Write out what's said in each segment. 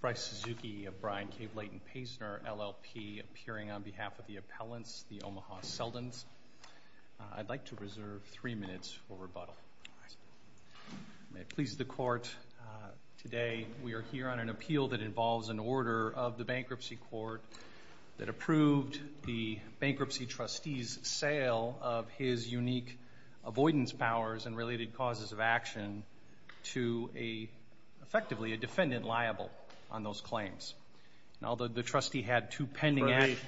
Bryce Suzuki of Brian K. Blayton-Paysner, LLP, appearing on behalf of the appellants, the Omaha Seldins. I'd like to reserve three minutes for rebuttal. May it please the Court, today we are here on an appeal that involves an order of the Bankruptcy Court that approved the bankruptcy trustee's sale of his unique avoidance powers and related causes of action to effectively a defendant liable on those claims. Although the trustee had two pending acts.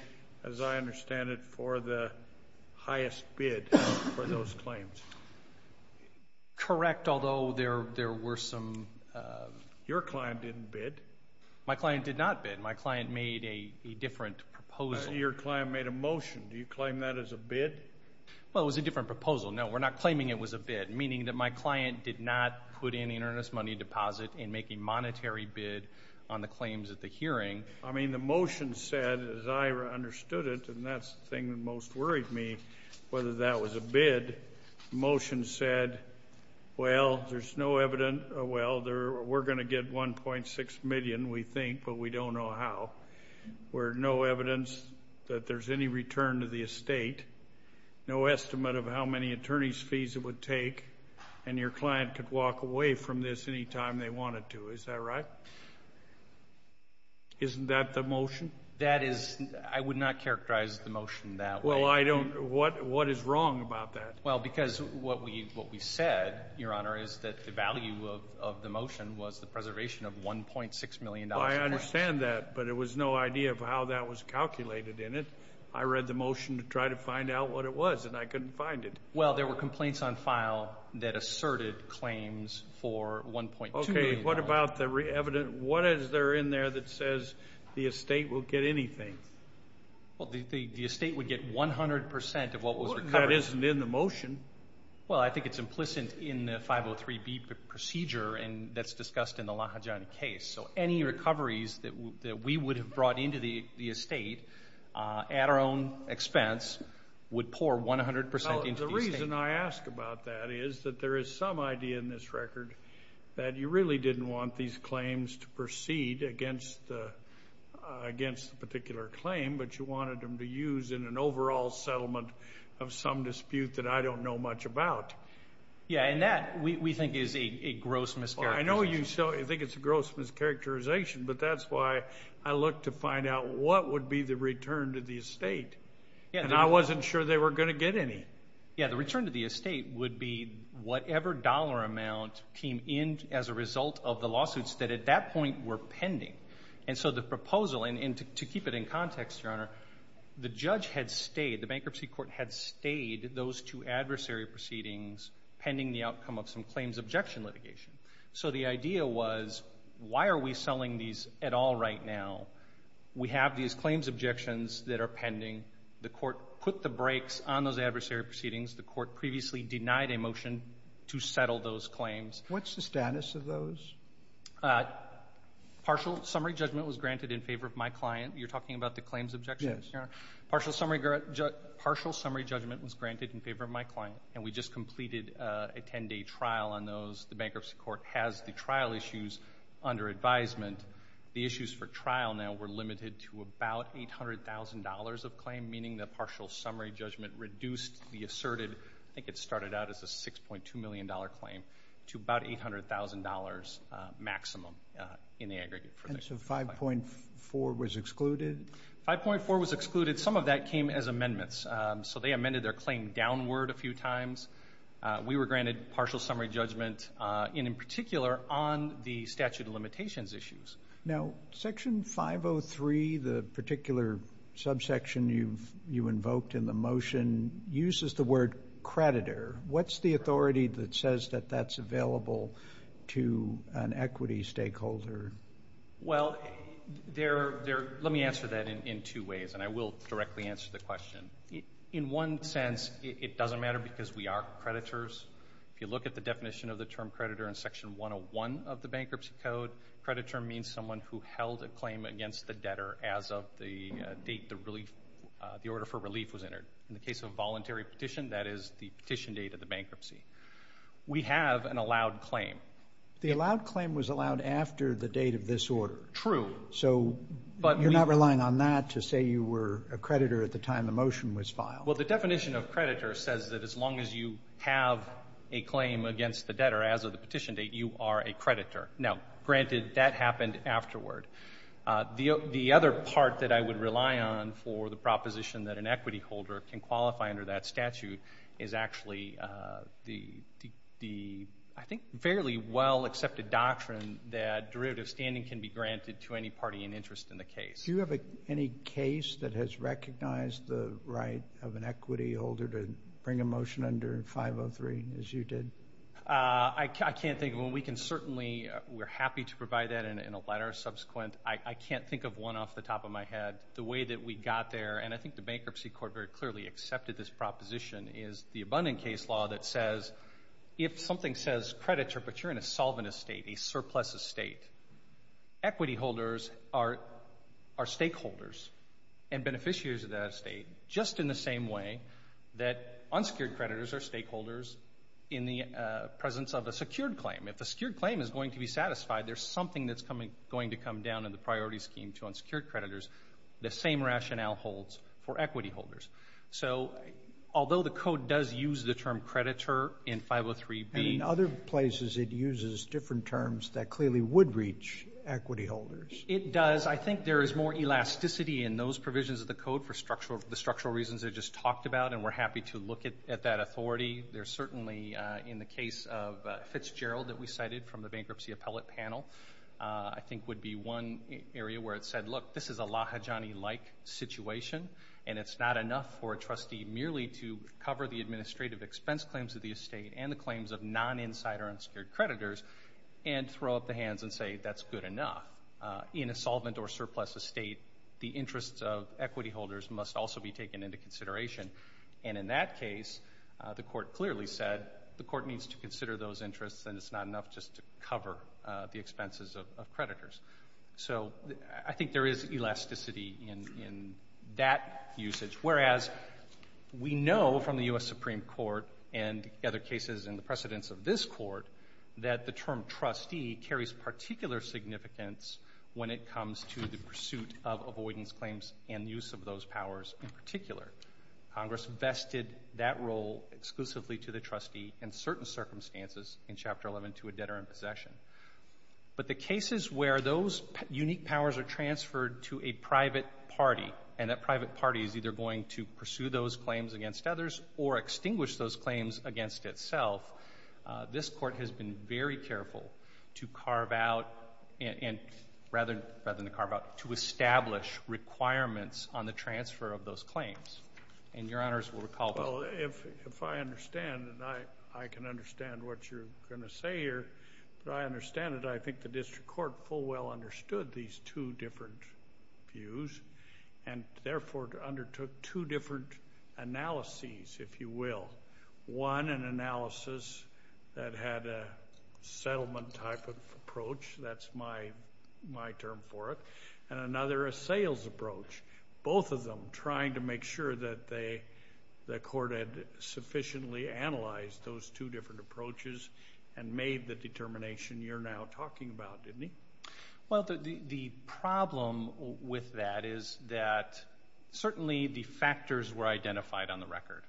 As I understand it, for the highest bid for those claims. Correct, although there were some. Your client didn't bid. My client did not bid. My client made a different proposal. Your client made a motion. Do you claim that as a bid? Well, it was a different proposal. No, we're not claiming it was a bid, meaning that my client did not put in an earnest money deposit and make a monetary bid on the claims at the hearing. I mean, the motion said, as I understood it, and that's the thing that most worried me, whether that was a bid. Motion said, well, there's no evidence. Well, we're going to get 1.6 million, we think, but we don't know how. Where no evidence that there's any return to the estate, no estimate of how many attorney's fees it would take, and your client could walk away from this any time they wanted to. Is that right? Isn't that the motion? That is, I would not characterize the motion that way. Well, I don't, what is wrong about that? Well, because what we said, Your Honor, is that the value of the motion was the preservation of $1.6 million. Well, I understand that, but it was no idea of how that was calculated in it. I read the motion to try to find out what it was, and I couldn't find it. Well, there were complaints on file that asserted claims for $1.2 million. Okay, what about the evidence, what is there in there that says the estate will get anything? Well, the estate would get 100% of what was recovered. That isn't in the motion. Well, I think it's discussed in the Lahajani case, so any recoveries that we would have brought into the estate at our own expense would pour 100% into the estate. The reason I ask about that is that there is some idea in this record that you really didn't want these claims to proceed against the particular claim, but you wanted them to use in an overall settlement of some dispute that I don't know much about. Yeah, and that we think is a gross mischaracterization. I know you think it's a gross mischaracterization, but that's why I looked to find out what would be the return to the estate, and I wasn't sure they were going to get any. Yeah, the return to the estate would be whatever dollar amount came in as a result of the lawsuits that at that point were pending, and so the proposal, and to keep it in context, Your Honor, the judge had stayed, the bankruptcy court had pending the outcome of some claims objection litigation. So the idea was, why are we selling these at all right now? We have these claims objections that are pending. The Court put the brakes on those adversary proceedings. The Court previously denied a motion to settle those claims. What's the status of those? Partial summary judgment was granted in favor of my client. You're talking about the claims objections? Yes, Your Honor. Partial summary judgment was granted in favor of my client, and we just completed a 10-day trial on those. The bankruptcy court has the trial issues under advisement. The issues for trial now were limited to about $800,000 of claim, meaning the partial summary judgment reduced the asserted, I think it started out as a $6.2 million claim, to about $800,000 maximum in the aggregate. And so 5.4 was excluded? 5.4 was excluded. Some of that came as amendments. So they amended their claim downward a few times. We were granted partial summary judgment, and in particular, on the statute of limitations issues. Now, Section 503, the particular subsection you've you invoked in the motion, uses the word creditor. What's the authority that says that that's available to an equity stakeholder? Well, let me answer that in two ways, and I will directly answer the question. In one sense, it doesn't matter because we are creditors. If you look at the definition of the term creditor in Section 101 of the bankruptcy code, creditor means someone who held a claim against the debtor as of the date the order for relief was entered. In the case of voluntary petition, that is the petition date of the bankruptcy. We have an allowed claim. The allowed claim was allowed after the date of this order. True. So you're not relying on that to say you were a creditor at the time the motion was filed? Well, the definition of creditor says that as long as you have a claim against the debtor as of the petition date, you are a creditor. Now, granted, that happened afterward. The other part that I would rely on for the proposition that an equity holder can qualify under that statute is actually the, I think, fairly well-accepted doctrine that derivative standing can be granted to any party in interest in the case. Do you have any case that has recognized the right of an equity holder to bring a motion under 503, as you did? I can't think of one. We can certainly, we're happy to provide that in a letter subsequent. I can't think of one off the top of my head. The way that we got there, and I think the bankruptcy court very clearly accepted this proposition, is the abundant case law that says if something says creditor, but you're in a solvent estate, a surplus estate, equity holders are stakeholders and beneficiaries of that estate just in the same way that unsecured creditors are stakeholders in the presence of a secured claim. If a secured claim is going to be satisfied, there's something that's going to come down in the priority scheme to unsecured creditors. The same rationale holds for equity holders. So, although the code does use the term creditor in 503B. And in other places, it uses different terms that clearly would reach equity holders. It does. I think there is more elasticity in those provisions of the code for the structural reasons I just talked about, and we're happy to look at that authority. There's certainly, in the case of Fitzgerald that we cited from the bankruptcy appellate panel, I think would be one area where it said, look, this is a Lahajani-like situation, and it's not enough for a trustee merely to cover the administrative expense claims of the estate and the claims of non-insider unsecured creditors, and throw up the hands and say that's good enough. In a solvent or surplus estate, the interests of equity holders must also be taken into consideration. And in that case, the court clearly said the court needs to consider those interests, and it's not enough just to cover the expenses of creditors. So, I think there is elasticity in that usage. Whereas, we know from the U.S. Supreme Court and other cases in the precedence of this court that the term trustee carries particular significance when it comes to the pursuit of avoidance claims and use of those powers in particular. Congress vested that role exclusively to the trustee in certain circumstances in Chapter 11 to a debtor in possession. But the cases where those unique powers are transferred to a private party, and that private party is either going to pursue those claims against others or extinguish those claims against itself, this Court has been very careful to carve out and rather than carve out, to establish requirements on the transfer of those claims. And Your Honors will recall that. If I understand, and I can understand what you're going to say here, but I understand it, I think the District Court full well understood these two different views and therefore undertook two different analyses, if you will. One, an analysis that had a settlement type of approach. That's my term for it. And another, a sales approach. Both of them trying to make sure that the Court had sufficiently analyzed those two different approaches and made the determination you're now talking about, didn't he? Well, the problem with that is that certainly the factors were identified on the record.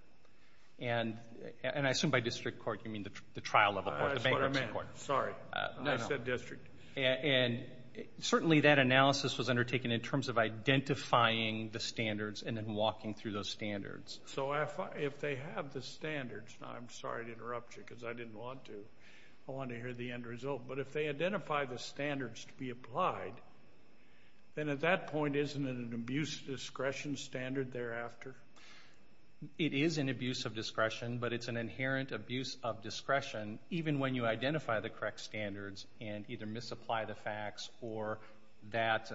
And I assume by District Court you mean the trial level court, the bankruptcy court. That's what I meant. Sorry. I said District. And certainly that analysis was undertaken in terms of identifying the standards and then walking through those standards. So if they have the standards, now I'm sorry to interrupt you because I didn't want to. I want to hear the end result. But if they identify the standards to be applied, then at that point isn't it an abuse of discretion standard thereafter? It is an abuse of discretion, but it's an inherent abuse of discretion, even when you identify the correct standards and either misapply the facts or that...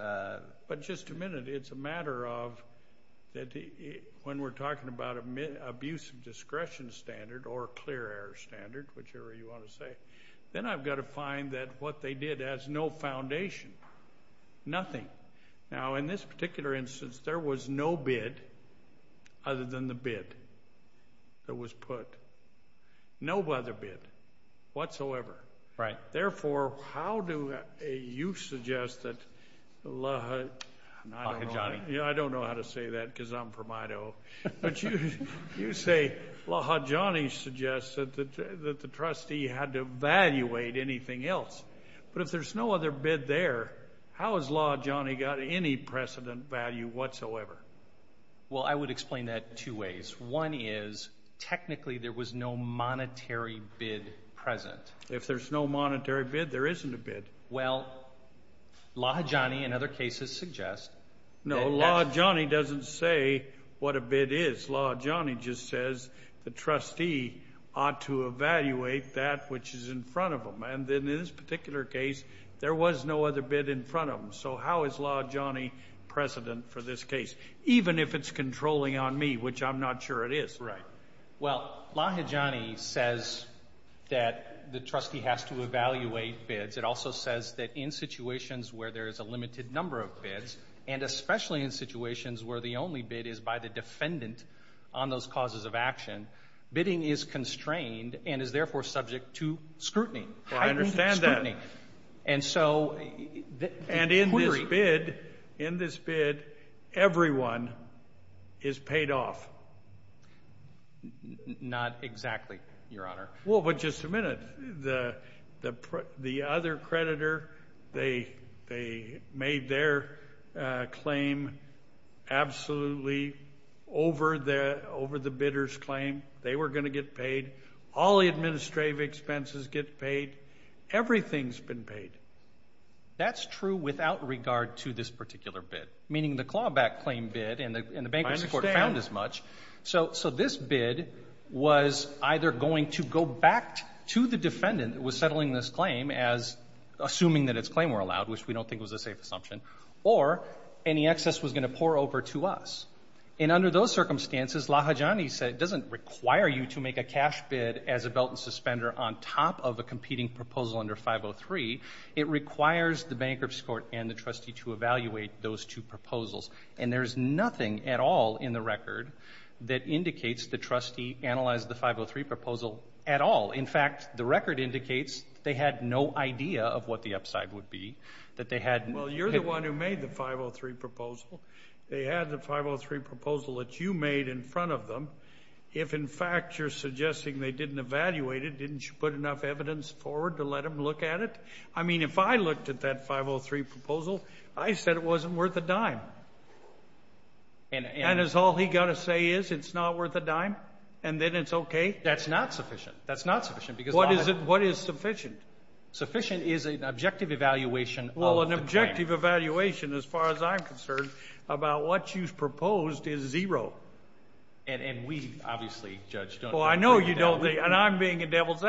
But just a minute. It's a matter of when we're talking about abuse of discretion standard or clear air standard, whichever you want to say, then I've got to find that what they did has no foundation. Nothing. Now, in this particular instance, there was no bid other than the bid that was put. No other bid whatsoever. Right. Therefore, how do you suggest that Lahajani... I don't know how to say that because I'm from Idaho. But you say Lahajani suggests that the trustee had to evaluate anything else. But if there's no other bid there, how has Lahajani got any precedent value whatsoever? Well, I would explain that two ways. One is technically there was no monetary bid present. If there's no monetary bid, there isn't a bid. Well, Lahajani in other cases suggest... No, Lahajani doesn't say what a bid is. Lahajani just says the trustee ought to evaluate that which is in front of him. And then in this particular case, there was no other bid in front of him. So how is Lahajani precedent for this case? Even if it's controlling on me, which I'm not sure it is. Right. Well, Lahajani says that the trustee has to evaluate bids. It also says that in situations where there is a limited number of bids, and especially in situations where the only bid is by the defendant on those causes of action, bidding is constrained and is therefore subject to scrutiny. Well, I understand that. And so... And in this bid, in this bid, everyone is paid off. Not exactly, Your Honor. Well, but just a minute. The other creditor, they made their claim absolutely over the bidder's claim. They were going to get paid. All the administrative expenses get paid. Everything's been paid. That's true without regard to this particular bid, meaning the clawback claim bid and the bankruptcy court found as much. I understand. So this bid was either going to go back to the defendant that was settling this claim as assuming that its claim were allowed, which we don't think was a safe assumption, or any excess was going to pour over to us. And under those circumstances, Lahajani said it doesn't require you to make a cash bid as a belt and suspender on top of a competing proposal under 503. It requires the bankruptcy court and the trustee to evaluate those two proposals. And there's nothing at all in the record that indicates the trustee analyzed the 503 proposal at all. In fact, the record indicates they had no idea of what the upside would be, that they had... Well, you're the one who made the 503 proposal. They had the 503 proposal that you made in front of them. If, in fact, you're suggesting they didn't evaluate it, didn't you put enough evidence forward to let them look at it? I mean, if I looked at that 503 proposal, I said it wasn't worth a dime. And is all he got to say is it's not worth a dime, and then it's okay? That's not sufficient. That's not sufficient because... What is sufficient? Sufficient is an objective evaluation of the claim. Well, an objective evaluation, as far as I'm concerned, about what you've proposed is zero. And we obviously, Judge, don't... Well, I know you don't think... And I'm being a devil's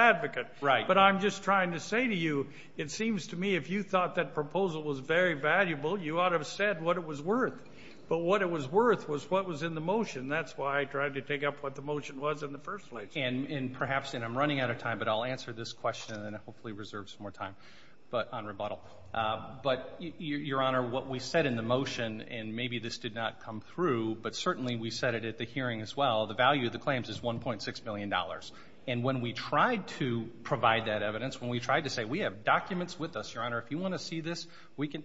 it seems to me if you thought that proposal was very valuable, you ought to have said what it was worth. But what it was worth was what was in the motion. That's why I tried to take up what the motion was in the first place. And perhaps, and I'm running out of time, but I'll answer this question, and then hopefully reserve some more time on rebuttal. But, Your Honor, what we said in the motion, and maybe this did not come through, but certainly we said it at the hearing as well, the value of the claims is $1.6 million. And when we tried to provide that evidence, when we tried to say, we have documents with us, Your Honor, if you want to see this, we can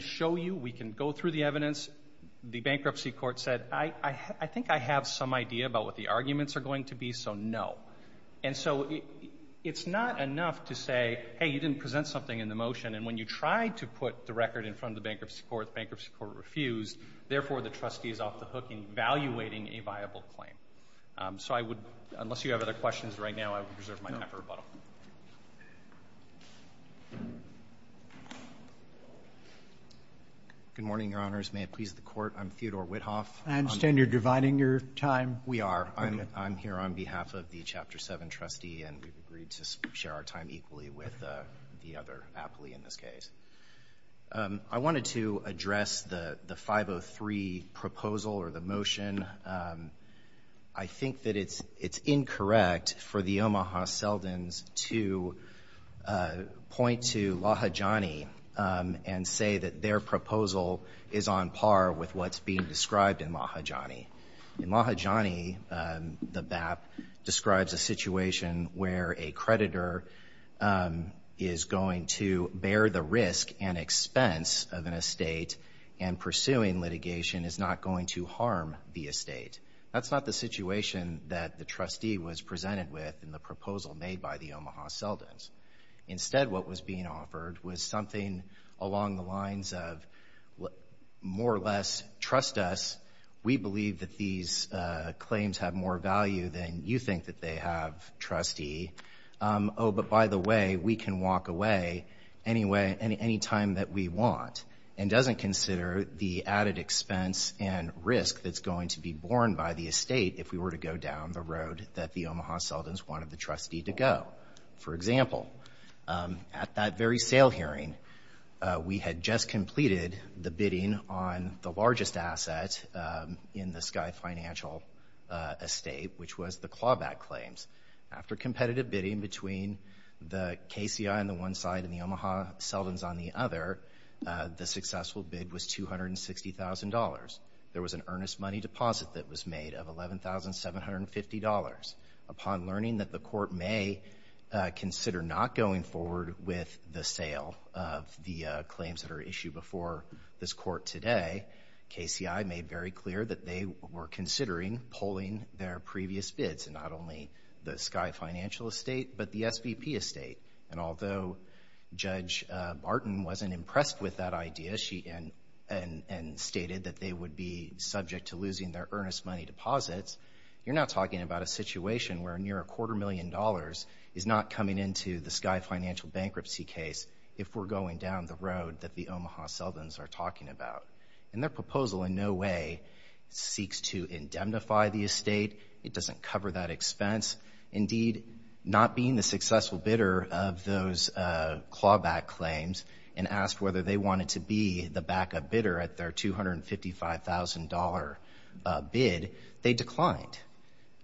show you, we can go through the evidence. The bankruptcy court said, I think I have some idea about what the arguments are going to be, so no. And so it's not enough to say, hey, you didn't present something in the motion. And when you tried to put the record in front of the bankruptcy court, the bankruptcy court refused. Therefore, the trustee is off the hook in evaluating a viable claim. So I would, unless you have other questions right now, I would reserve my time for rebuttal. Good morning, Your Honors. May it please the Court, I'm Theodore Whithoff. I understand you're dividing your time. We are. I'm here on behalf of the Chapter 7 trustee, and we've agreed to share our time equally with the other appley in this case. I wanted to address the 503 proposal or the motion. I think that it's incorrect for the Omaha Seldins to point to Lahajani and say that their proposal is on par with what's being described in Lahajani. In Lahajani, the BAP describes a situation where a creditor is going to bear the risk and expense of an estate and pursuing litigation is not going to harm the estate. That's not the situation that the trustee was presented with in the proposal made by the Omaha Seldins. Instead, what was being offered was something along the lines of, more or less, trust us. We believe that these claims have more value than you think that they have, trustee. Oh, but by the way, we can walk away any time that we want and doesn't consider the added expense and risk that's going to be borne by the estate if we were to go down the road that the Omaha Seldins wanted the trustee to go. For example, at that very sale hearing, we had just completed the bidding on the largest asset in the Sky Financial estate, which was the clawback claims. After competitive bidding between the KCI on the one side and the Omaha Seldins on the other, the successful bid was $260,000. There was an earnest money deposit that was made of $11,750. Upon learning that the court may consider not going forward with the sale of the claims that are issued before this court today, KCI made very clear that they were considering pulling their previous bids in not only the Sky Financial estate, but the SVP estate. And although Judge Barton wasn't impressed with that idea, she stated that they would be subject to losing their earnest money deposits. You're not talking about a situation where near a quarter million dollars is not coming into the Sky Financial bankruptcy case if we're going down the road that the Omaha Seldins are talking about. And their proposal in no way seeks to indemnify the estate. It doesn't cover that expense. Indeed, not being the successful bidder of those clawback claims and asked whether they wanted to be the backup bidder at their $255,000 bid, they declined.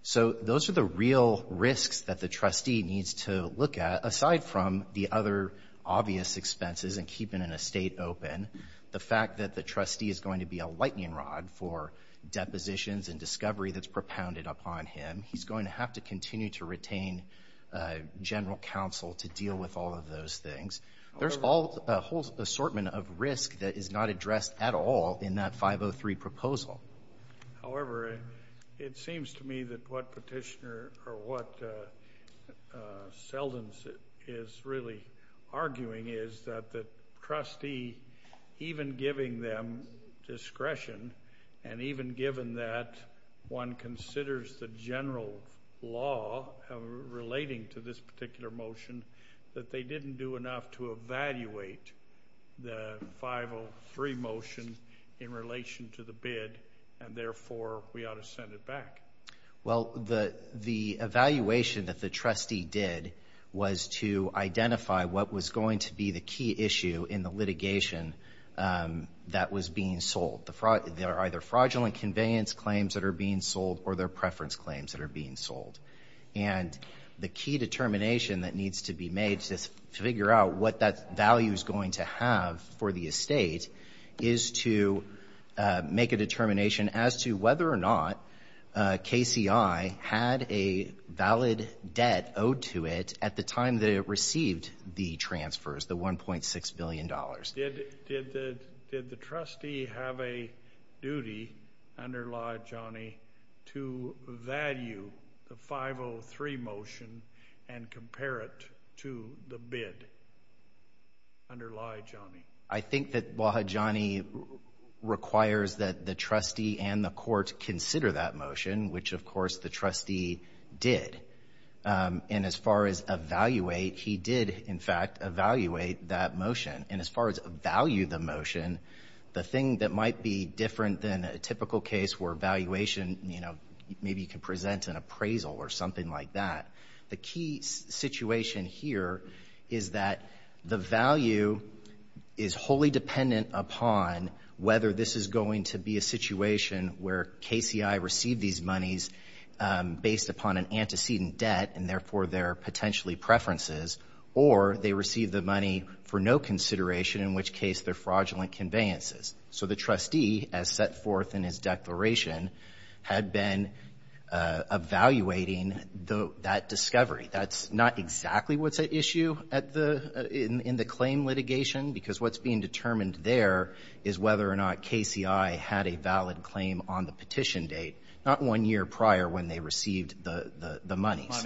So those are the real risks that the trustee needs to look at, aside from the other obvious expenses and keeping an estate open. The fact that the trustee is going to be a lightning rod for depositions and discovery that's propounded upon him. He's going to have to continue to retain general counsel to deal with all of those things. There's a whole assortment of risk that is not addressed at all in that 503 proposal. However, it seems to me that what petitioner or what Seldins is really arguing is that the trustee, even giving them discretion, and even given that one considers the general law relating to this particular motion, that they didn't do enough to evaluate the 503 motion in relation to the bid, and therefore we ought to send it back. Well, the evaluation that the trustee did was to identify what was going to be the key issue in the litigation that was being sold. There are either fraudulent conveyance claims that are being sold or there are preference claims that are being sold. And the key determination that needs to be made to figure out what that value is going to have for the estate is to make a KCI had a valid debt owed to it at the time that it received the transfers, the $1.6 billion. Did the trustee have a duty under Laijani to value the 503 motion and compare it to the bid under Laijani? I think that Laijani requires that the trustee and the court consider that motion, which, of course, the trustee did. And as far as evaluate, he did, in fact, evaluate that motion. And as far as value the motion, the thing that might be different than a typical case where valuation, you know, maybe you can present an appraisal or something like that, the key situation here is that the value is wholly dependent upon whether this is going to be a based upon an antecedent debt and therefore their potentially preferences or they receive the money for no consideration, in which case they're fraudulent conveyances. So the trustee, as set forth in his declaration, had been evaluating that discovery. That's not exactly what's at issue in the claim litigation, because what's being determined there is whether or not KCI had a valid claim on the petition date, not one year prior when they received the monies.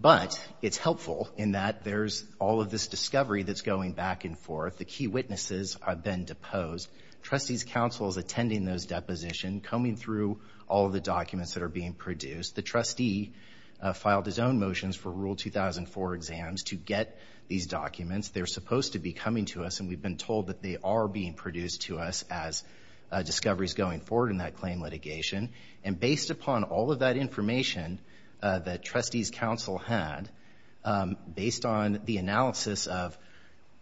But it's helpful in that there's all of this discovery that's going back and forth. The key witnesses have been deposed. Trustee's counsel is attending those depositions, combing through all the documents that are being produced. The trustee filed his own motions for Rule 2004 exams to get these documents. They're supposed to be coming to us, and we've been told that they are being produced to us as discoveries going forward in that claim litigation. And based upon all of that information that Trustee's counsel had, based on the analysis of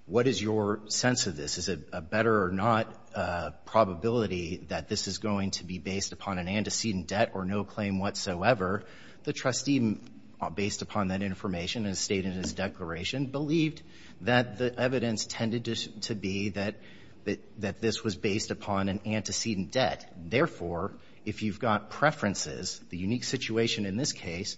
what is your sense of this, is it a better or not probability that this is going to be based upon an antecedent debt or no claim whatsoever, the trustee, based upon that information as stated in his declaration, believed that the evidence tended to be that this was based upon an antecedent debt. Therefore, if you've got preferences, the unique situation in this case,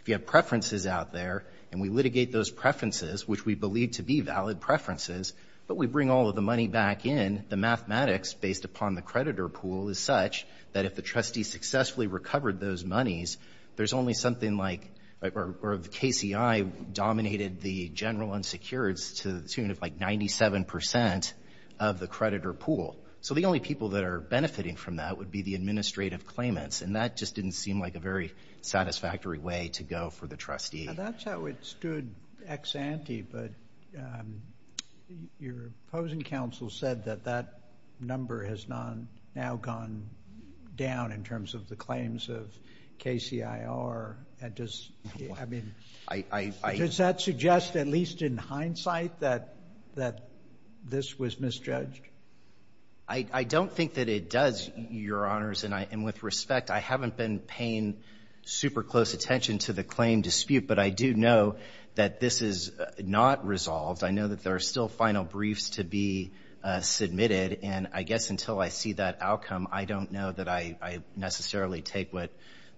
if you have preferences out there and we litigate those preferences, which we believe to be valid preferences, but we bring all of the money back in, the mathematics based upon the creditor pool is such that if the trustee successfully recovered those monies, there's only something like, or the KCI dominated the general unsecureds to like 97% of the creditor pool. So the only people that are benefiting from that would be the administrative claimants. And that just didn't seem like a very satisfactory way to go for the trustee. Now, that's how it stood ex ante, but your opposing counsel said that that number has not now gone down in terms of the claims of KCIR. And does, I mean, does that suggest at least in hindsight that this was misjudged? I don't think that it does, Your Honors. And with respect, I haven't been paying super close attention to the claim dispute, but I do know that this is not resolved. I know that there are still final briefs to be submitted. And I guess until I see that outcome, I don't know that I necessarily take what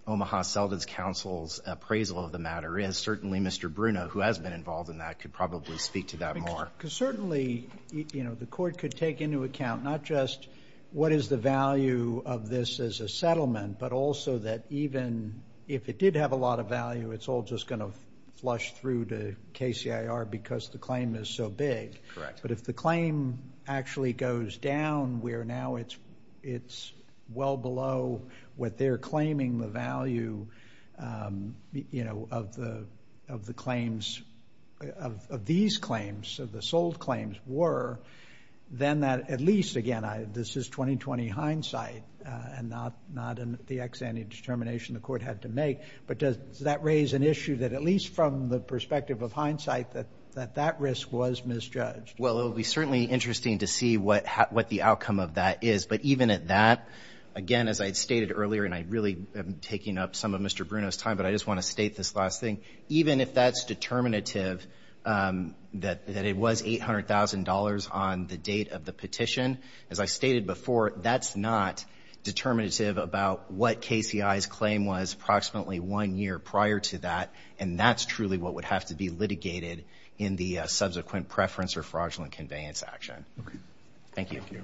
Omaha-Seldon's counsel's appraisal of the matter is. Certainly, Mr. Bruno, who has been involved in that, could probably speak to that more. Because certainly, you know, the court could take into account not just what is the value of this as a settlement, but also that even if it did have a lot of value, it's all just going to flush through to KCIR because the claim is so big. Correct. But if the claim actually goes down where now it's well below what they're claiming the value, you know, of the claims, of these claims, of the sold claims were, then that at least, again, this is 20-20 hindsight and not in the ex ante determination the court had to make. But does that raise an issue that at least from the perspective of hindsight that that risk was misjudged? Well, it would be certainly interesting to see what the outcome of that is. But even at that, again, as I had stated earlier, and I really am taking up some of Mr. Bruno's time, but I just want to state this last thing, even if that's determinative that it was $800,000 on the date of the petition, as I stated before, that's not determinative about what KCI's claim was approximately one year prior to that, and that's truly what would have to be litigated in the subsequent preference or fraudulent conveyance action. Thank you. Thank you.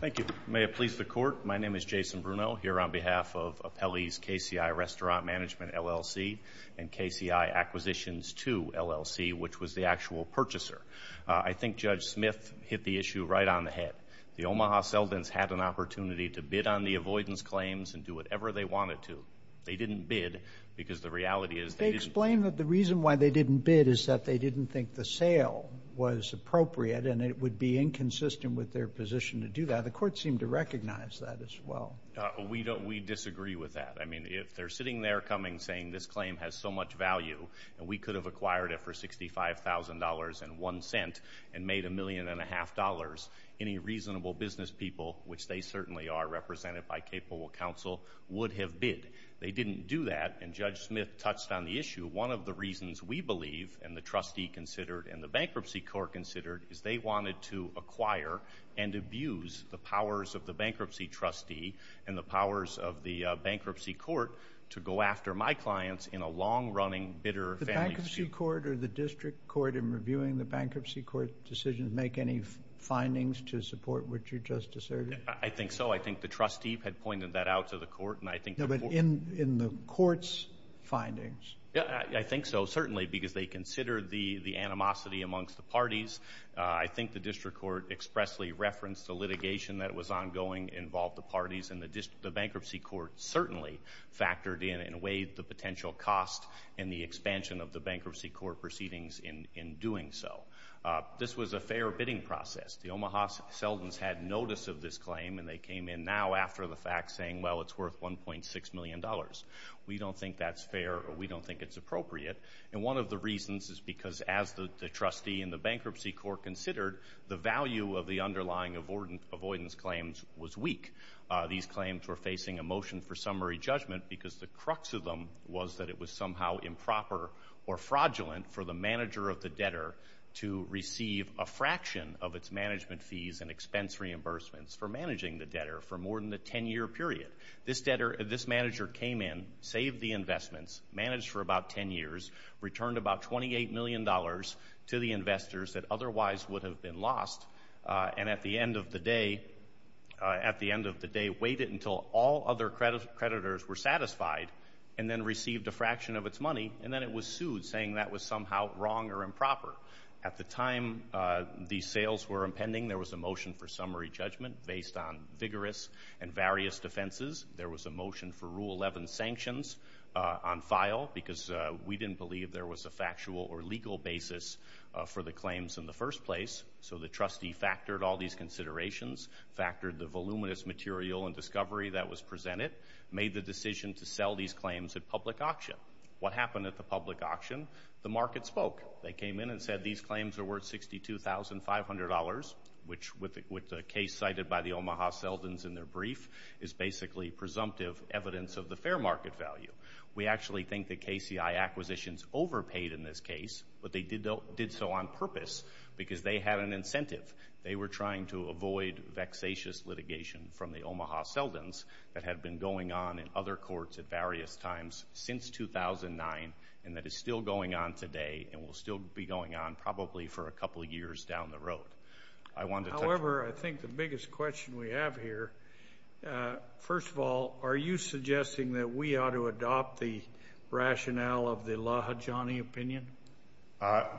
Thank you. May it please the Court, my name is Jason Bruno here on behalf of Apelli's KCI Restaurant Management LLC and KCI Acquisitions II LLC, which was the actual purchaser. I think Judge Smith hit the issue right on the head. The Omaha Seldins had an opportunity to bid on the avoidance claims and do whatever they wanted to. They didn't bid because the reality is they didn't They explained that the reason why they didn't bid is that they didn't think the sale was appropriate and it would be inconsistent with their position to do that. The Court seemed to recognize that as well. We disagree with that. I mean, if they're sitting there coming saying this claim has so much value and we could have acquired it for $65,000.01 and made $1.5 million, any reasonable business people, which they certainly are represented by capable counsel, would have bid. They didn't do that and Judge Smith touched on the issue. One of the reasons we believe and the trustee considered and the bankruptcy court considered is they wanted to acquire and abuse the powers of the bankruptcy trustee and the powers of the bankruptcy court to go after my clients in a long-running, bitter family feud. Did the bankruptcy court or the district court in reviewing the bankruptcy court decision make any findings to support what you just asserted? I think so. I think the trustee had pointed that out to the court and I think the court No, but in the court's findings? I think so, certainly, because they consider the animosity amongst the parties. I think the district court expressly referenced the litigation that was ongoing involved the parties and the bankruptcy court certainly factored in and weighed the potential cost and the expansion of the bankruptcy court proceedings in doing so. This was a fair bidding process. The Omaha Seldons had notice of this claim and they came in now after the fact saying, well, it's worth $1.6 million. We don't think that's fair or we don't think it's appropriate. One of the reasons is because as the trustee and the bankruptcy court considered, the value of the underlying avoidance claims was weak. These claims were facing a motion for summary judgment because the crux of them was that it was somehow improper or fraudulent for the manager of the debtor to receive a fraction of its management fees and expense reimbursements for managing the debtor for more than a 10-year period. This manager came in, saved the investments, managed for about 10 years, returned about $28 million to the investors that otherwise would have been lost, and at the end of the day waited until all other creditors were satisfied and then received a fraction of its money, and then it was sued saying that was somehow wrong or improper. At the time these sales were impending, there was a motion for summary judgment based on vigorous and various defenses. There was a motion for Rule 5 file because we didn't believe there was a factual or legal basis for the claims in the first place, so the trustee factored all these considerations, factored the voluminous material and discovery that was presented, made the decision to sell these claims at public auction. What happened at the public auction? The market spoke. They came in and said these claims are worth $62,500, which with the case cited by the Omaha Seldons in their brief is basically presumptive evidence of the fair market value. We actually think the KCI acquisitions overpaid in this case, but they did so on purpose because they had an incentive. They were trying to avoid vexatious litigation from the Omaha Seldons that had been going on in other courts at various times since 2009 and that is still going on today and will still be going on probably for a couple of years down the road. However, I think the biggest question we have here, first of all, are you suggesting that we ought to adopt the rationale of the Lahajani opinion?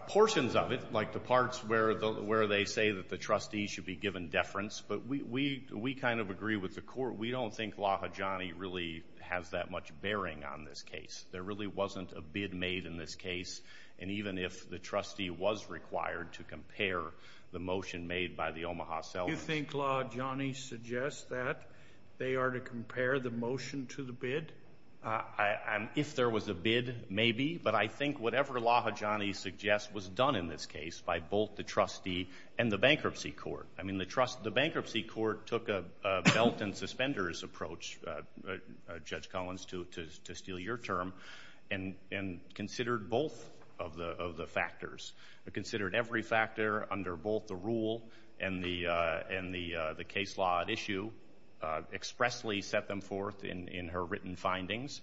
Portions of it, like the parts where they say that the trustee should be given deference, but we kind of agree with the court. We don't think Lahajani really has that much bearing on this case. There really wasn't a bid made in this case, and even if the trustee was required to compare the motion made by the Omaha Seldons. Do you think Lahajani suggests that they are to compare the motion to the bid? If there was a bid, maybe, but I think whatever Lahajani suggests was done in this case by both the trustee and the bankruptcy court. I mean, the bankruptcy court took a belt and suspenders approach, Judge Collins, to steal your term and considered both of the factors, considered every factor under both the rule and the case law at issue, expressly set them forth in her written findings,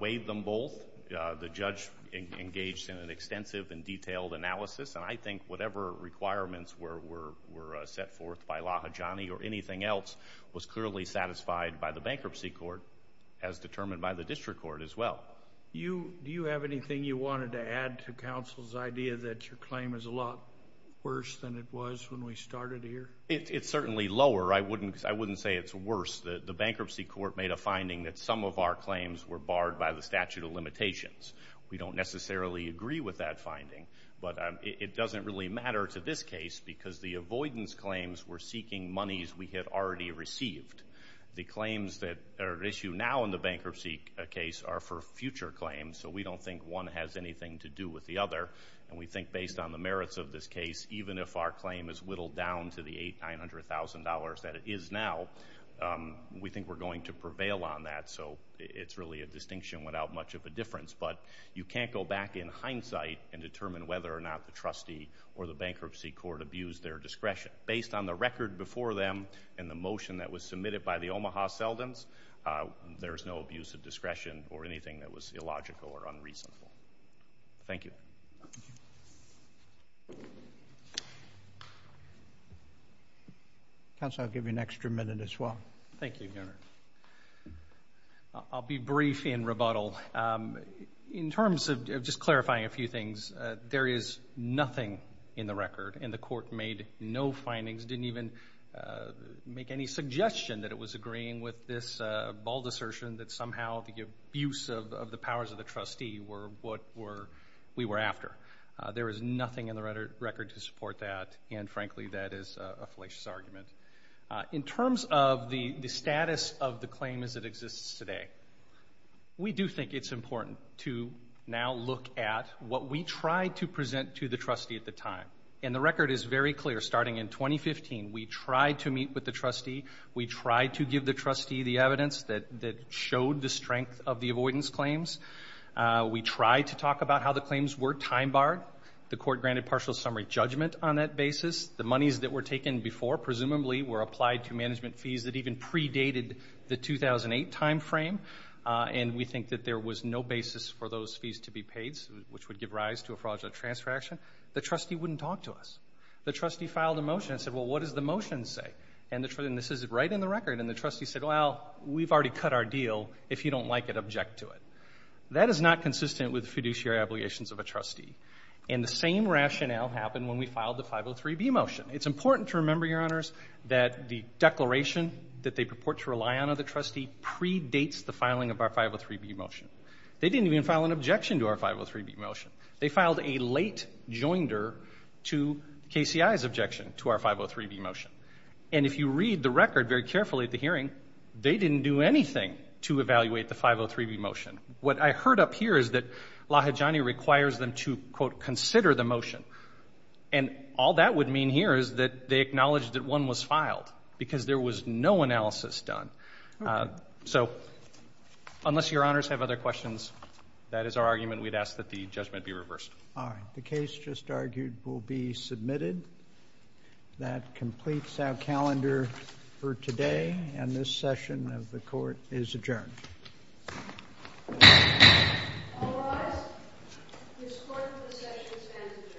weighed them both. The judge engaged in an extensive and detailed analysis, and I think whatever requirements were set forth by Lahajani or anything else was clearly satisfied by the bankruptcy court, as determined by the district court as well. Do you have anything you wanted to add to counsel's idea that your claim is a lot worse than it was when we started here? It's certainly lower. I wouldn't say it's worse. The bankruptcy court made a finding that some of our claims were barred by the statute of limitations. We don't necessarily agree with that finding, but it doesn't really matter to this case because the avoidance claims were seeking monies we had already received. The claims that are at issue now in the bankruptcy case are for future claims, so we don't think one has anything to do with the other, and we think based on the merits of this case, even if our claim is whittled down to the $800,000, $900,000 that it is now, we think we're going to prevail on that, so it's really a distinction without much of a difference, but you can't go back in hindsight and determine whether or not the trustee or the bankruptcy court abused their discretion. Based on the record before them and the motion that was submitted by the Omaha Seldins, there's no abuse of discretion or anything that was illogical or unreasonable. Thank you. Counsel, I'll give you an extra minute as well. Thank you, Governor. I'll be brief in rebuttal. In terms of just clarifying a few things, there is nothing in the record, and the court made no findings, didn't even make any suggestion that it was agreeing with this bald assertion that somehow the abuse of the powers of the trustee were what we were after. There is nothing in the record to support that, and frankly, that is a fallacious argument. In terms of the status of the claim as it exists today, we do think it's important to now look at what we tried to present to the trustee at the time, and the record is very clear. Starting in 2015, we tried to meet with the trustee. We tried to give the trustee the evidence that showed the strength of the avoidance claims. We tried to talk about how the claims were time-barred. The court granted partial summary judgment on that basis. The monies that were taken before presumably were applied to management fees that even predated the 2008 time frame, and we think that there was no basis for those fees to be paid, which would give rise to a fraudulent transaction. The trustee wouldn't talk to us. The trustee filed a motion and said, well, what does the record, and the trustee said, well, we've already cut our deal. If you don't like it, object to it. That is not consistent with the fiduciary obligations of a trustee, and the same rationale happened when we filed the 503B motion. It's important to remember, Your Honors, that the declaration that they purport to rely on of the trustee predates the filing of our 503B motion. They didn't even file an objection to our 503B motion. They filed a late joinder to KCI's objection to our 503B motion, and if you read the record very carefully at the hearing, they didn't do anything to evaluate the 503B motion. What I heard up here is that Lahijani requires them to, quote, consider the motion, and all that would mean here is that they acknowledged that one was filed because there was no analysis done. So unless Your Honors have other questions, that is our argument. We'd ask that the judgment be reversed. All right. The case just argued will be submitted. That completes our calendar for today, and this session of the court is adjourned. All rise. This court's session is adjourned.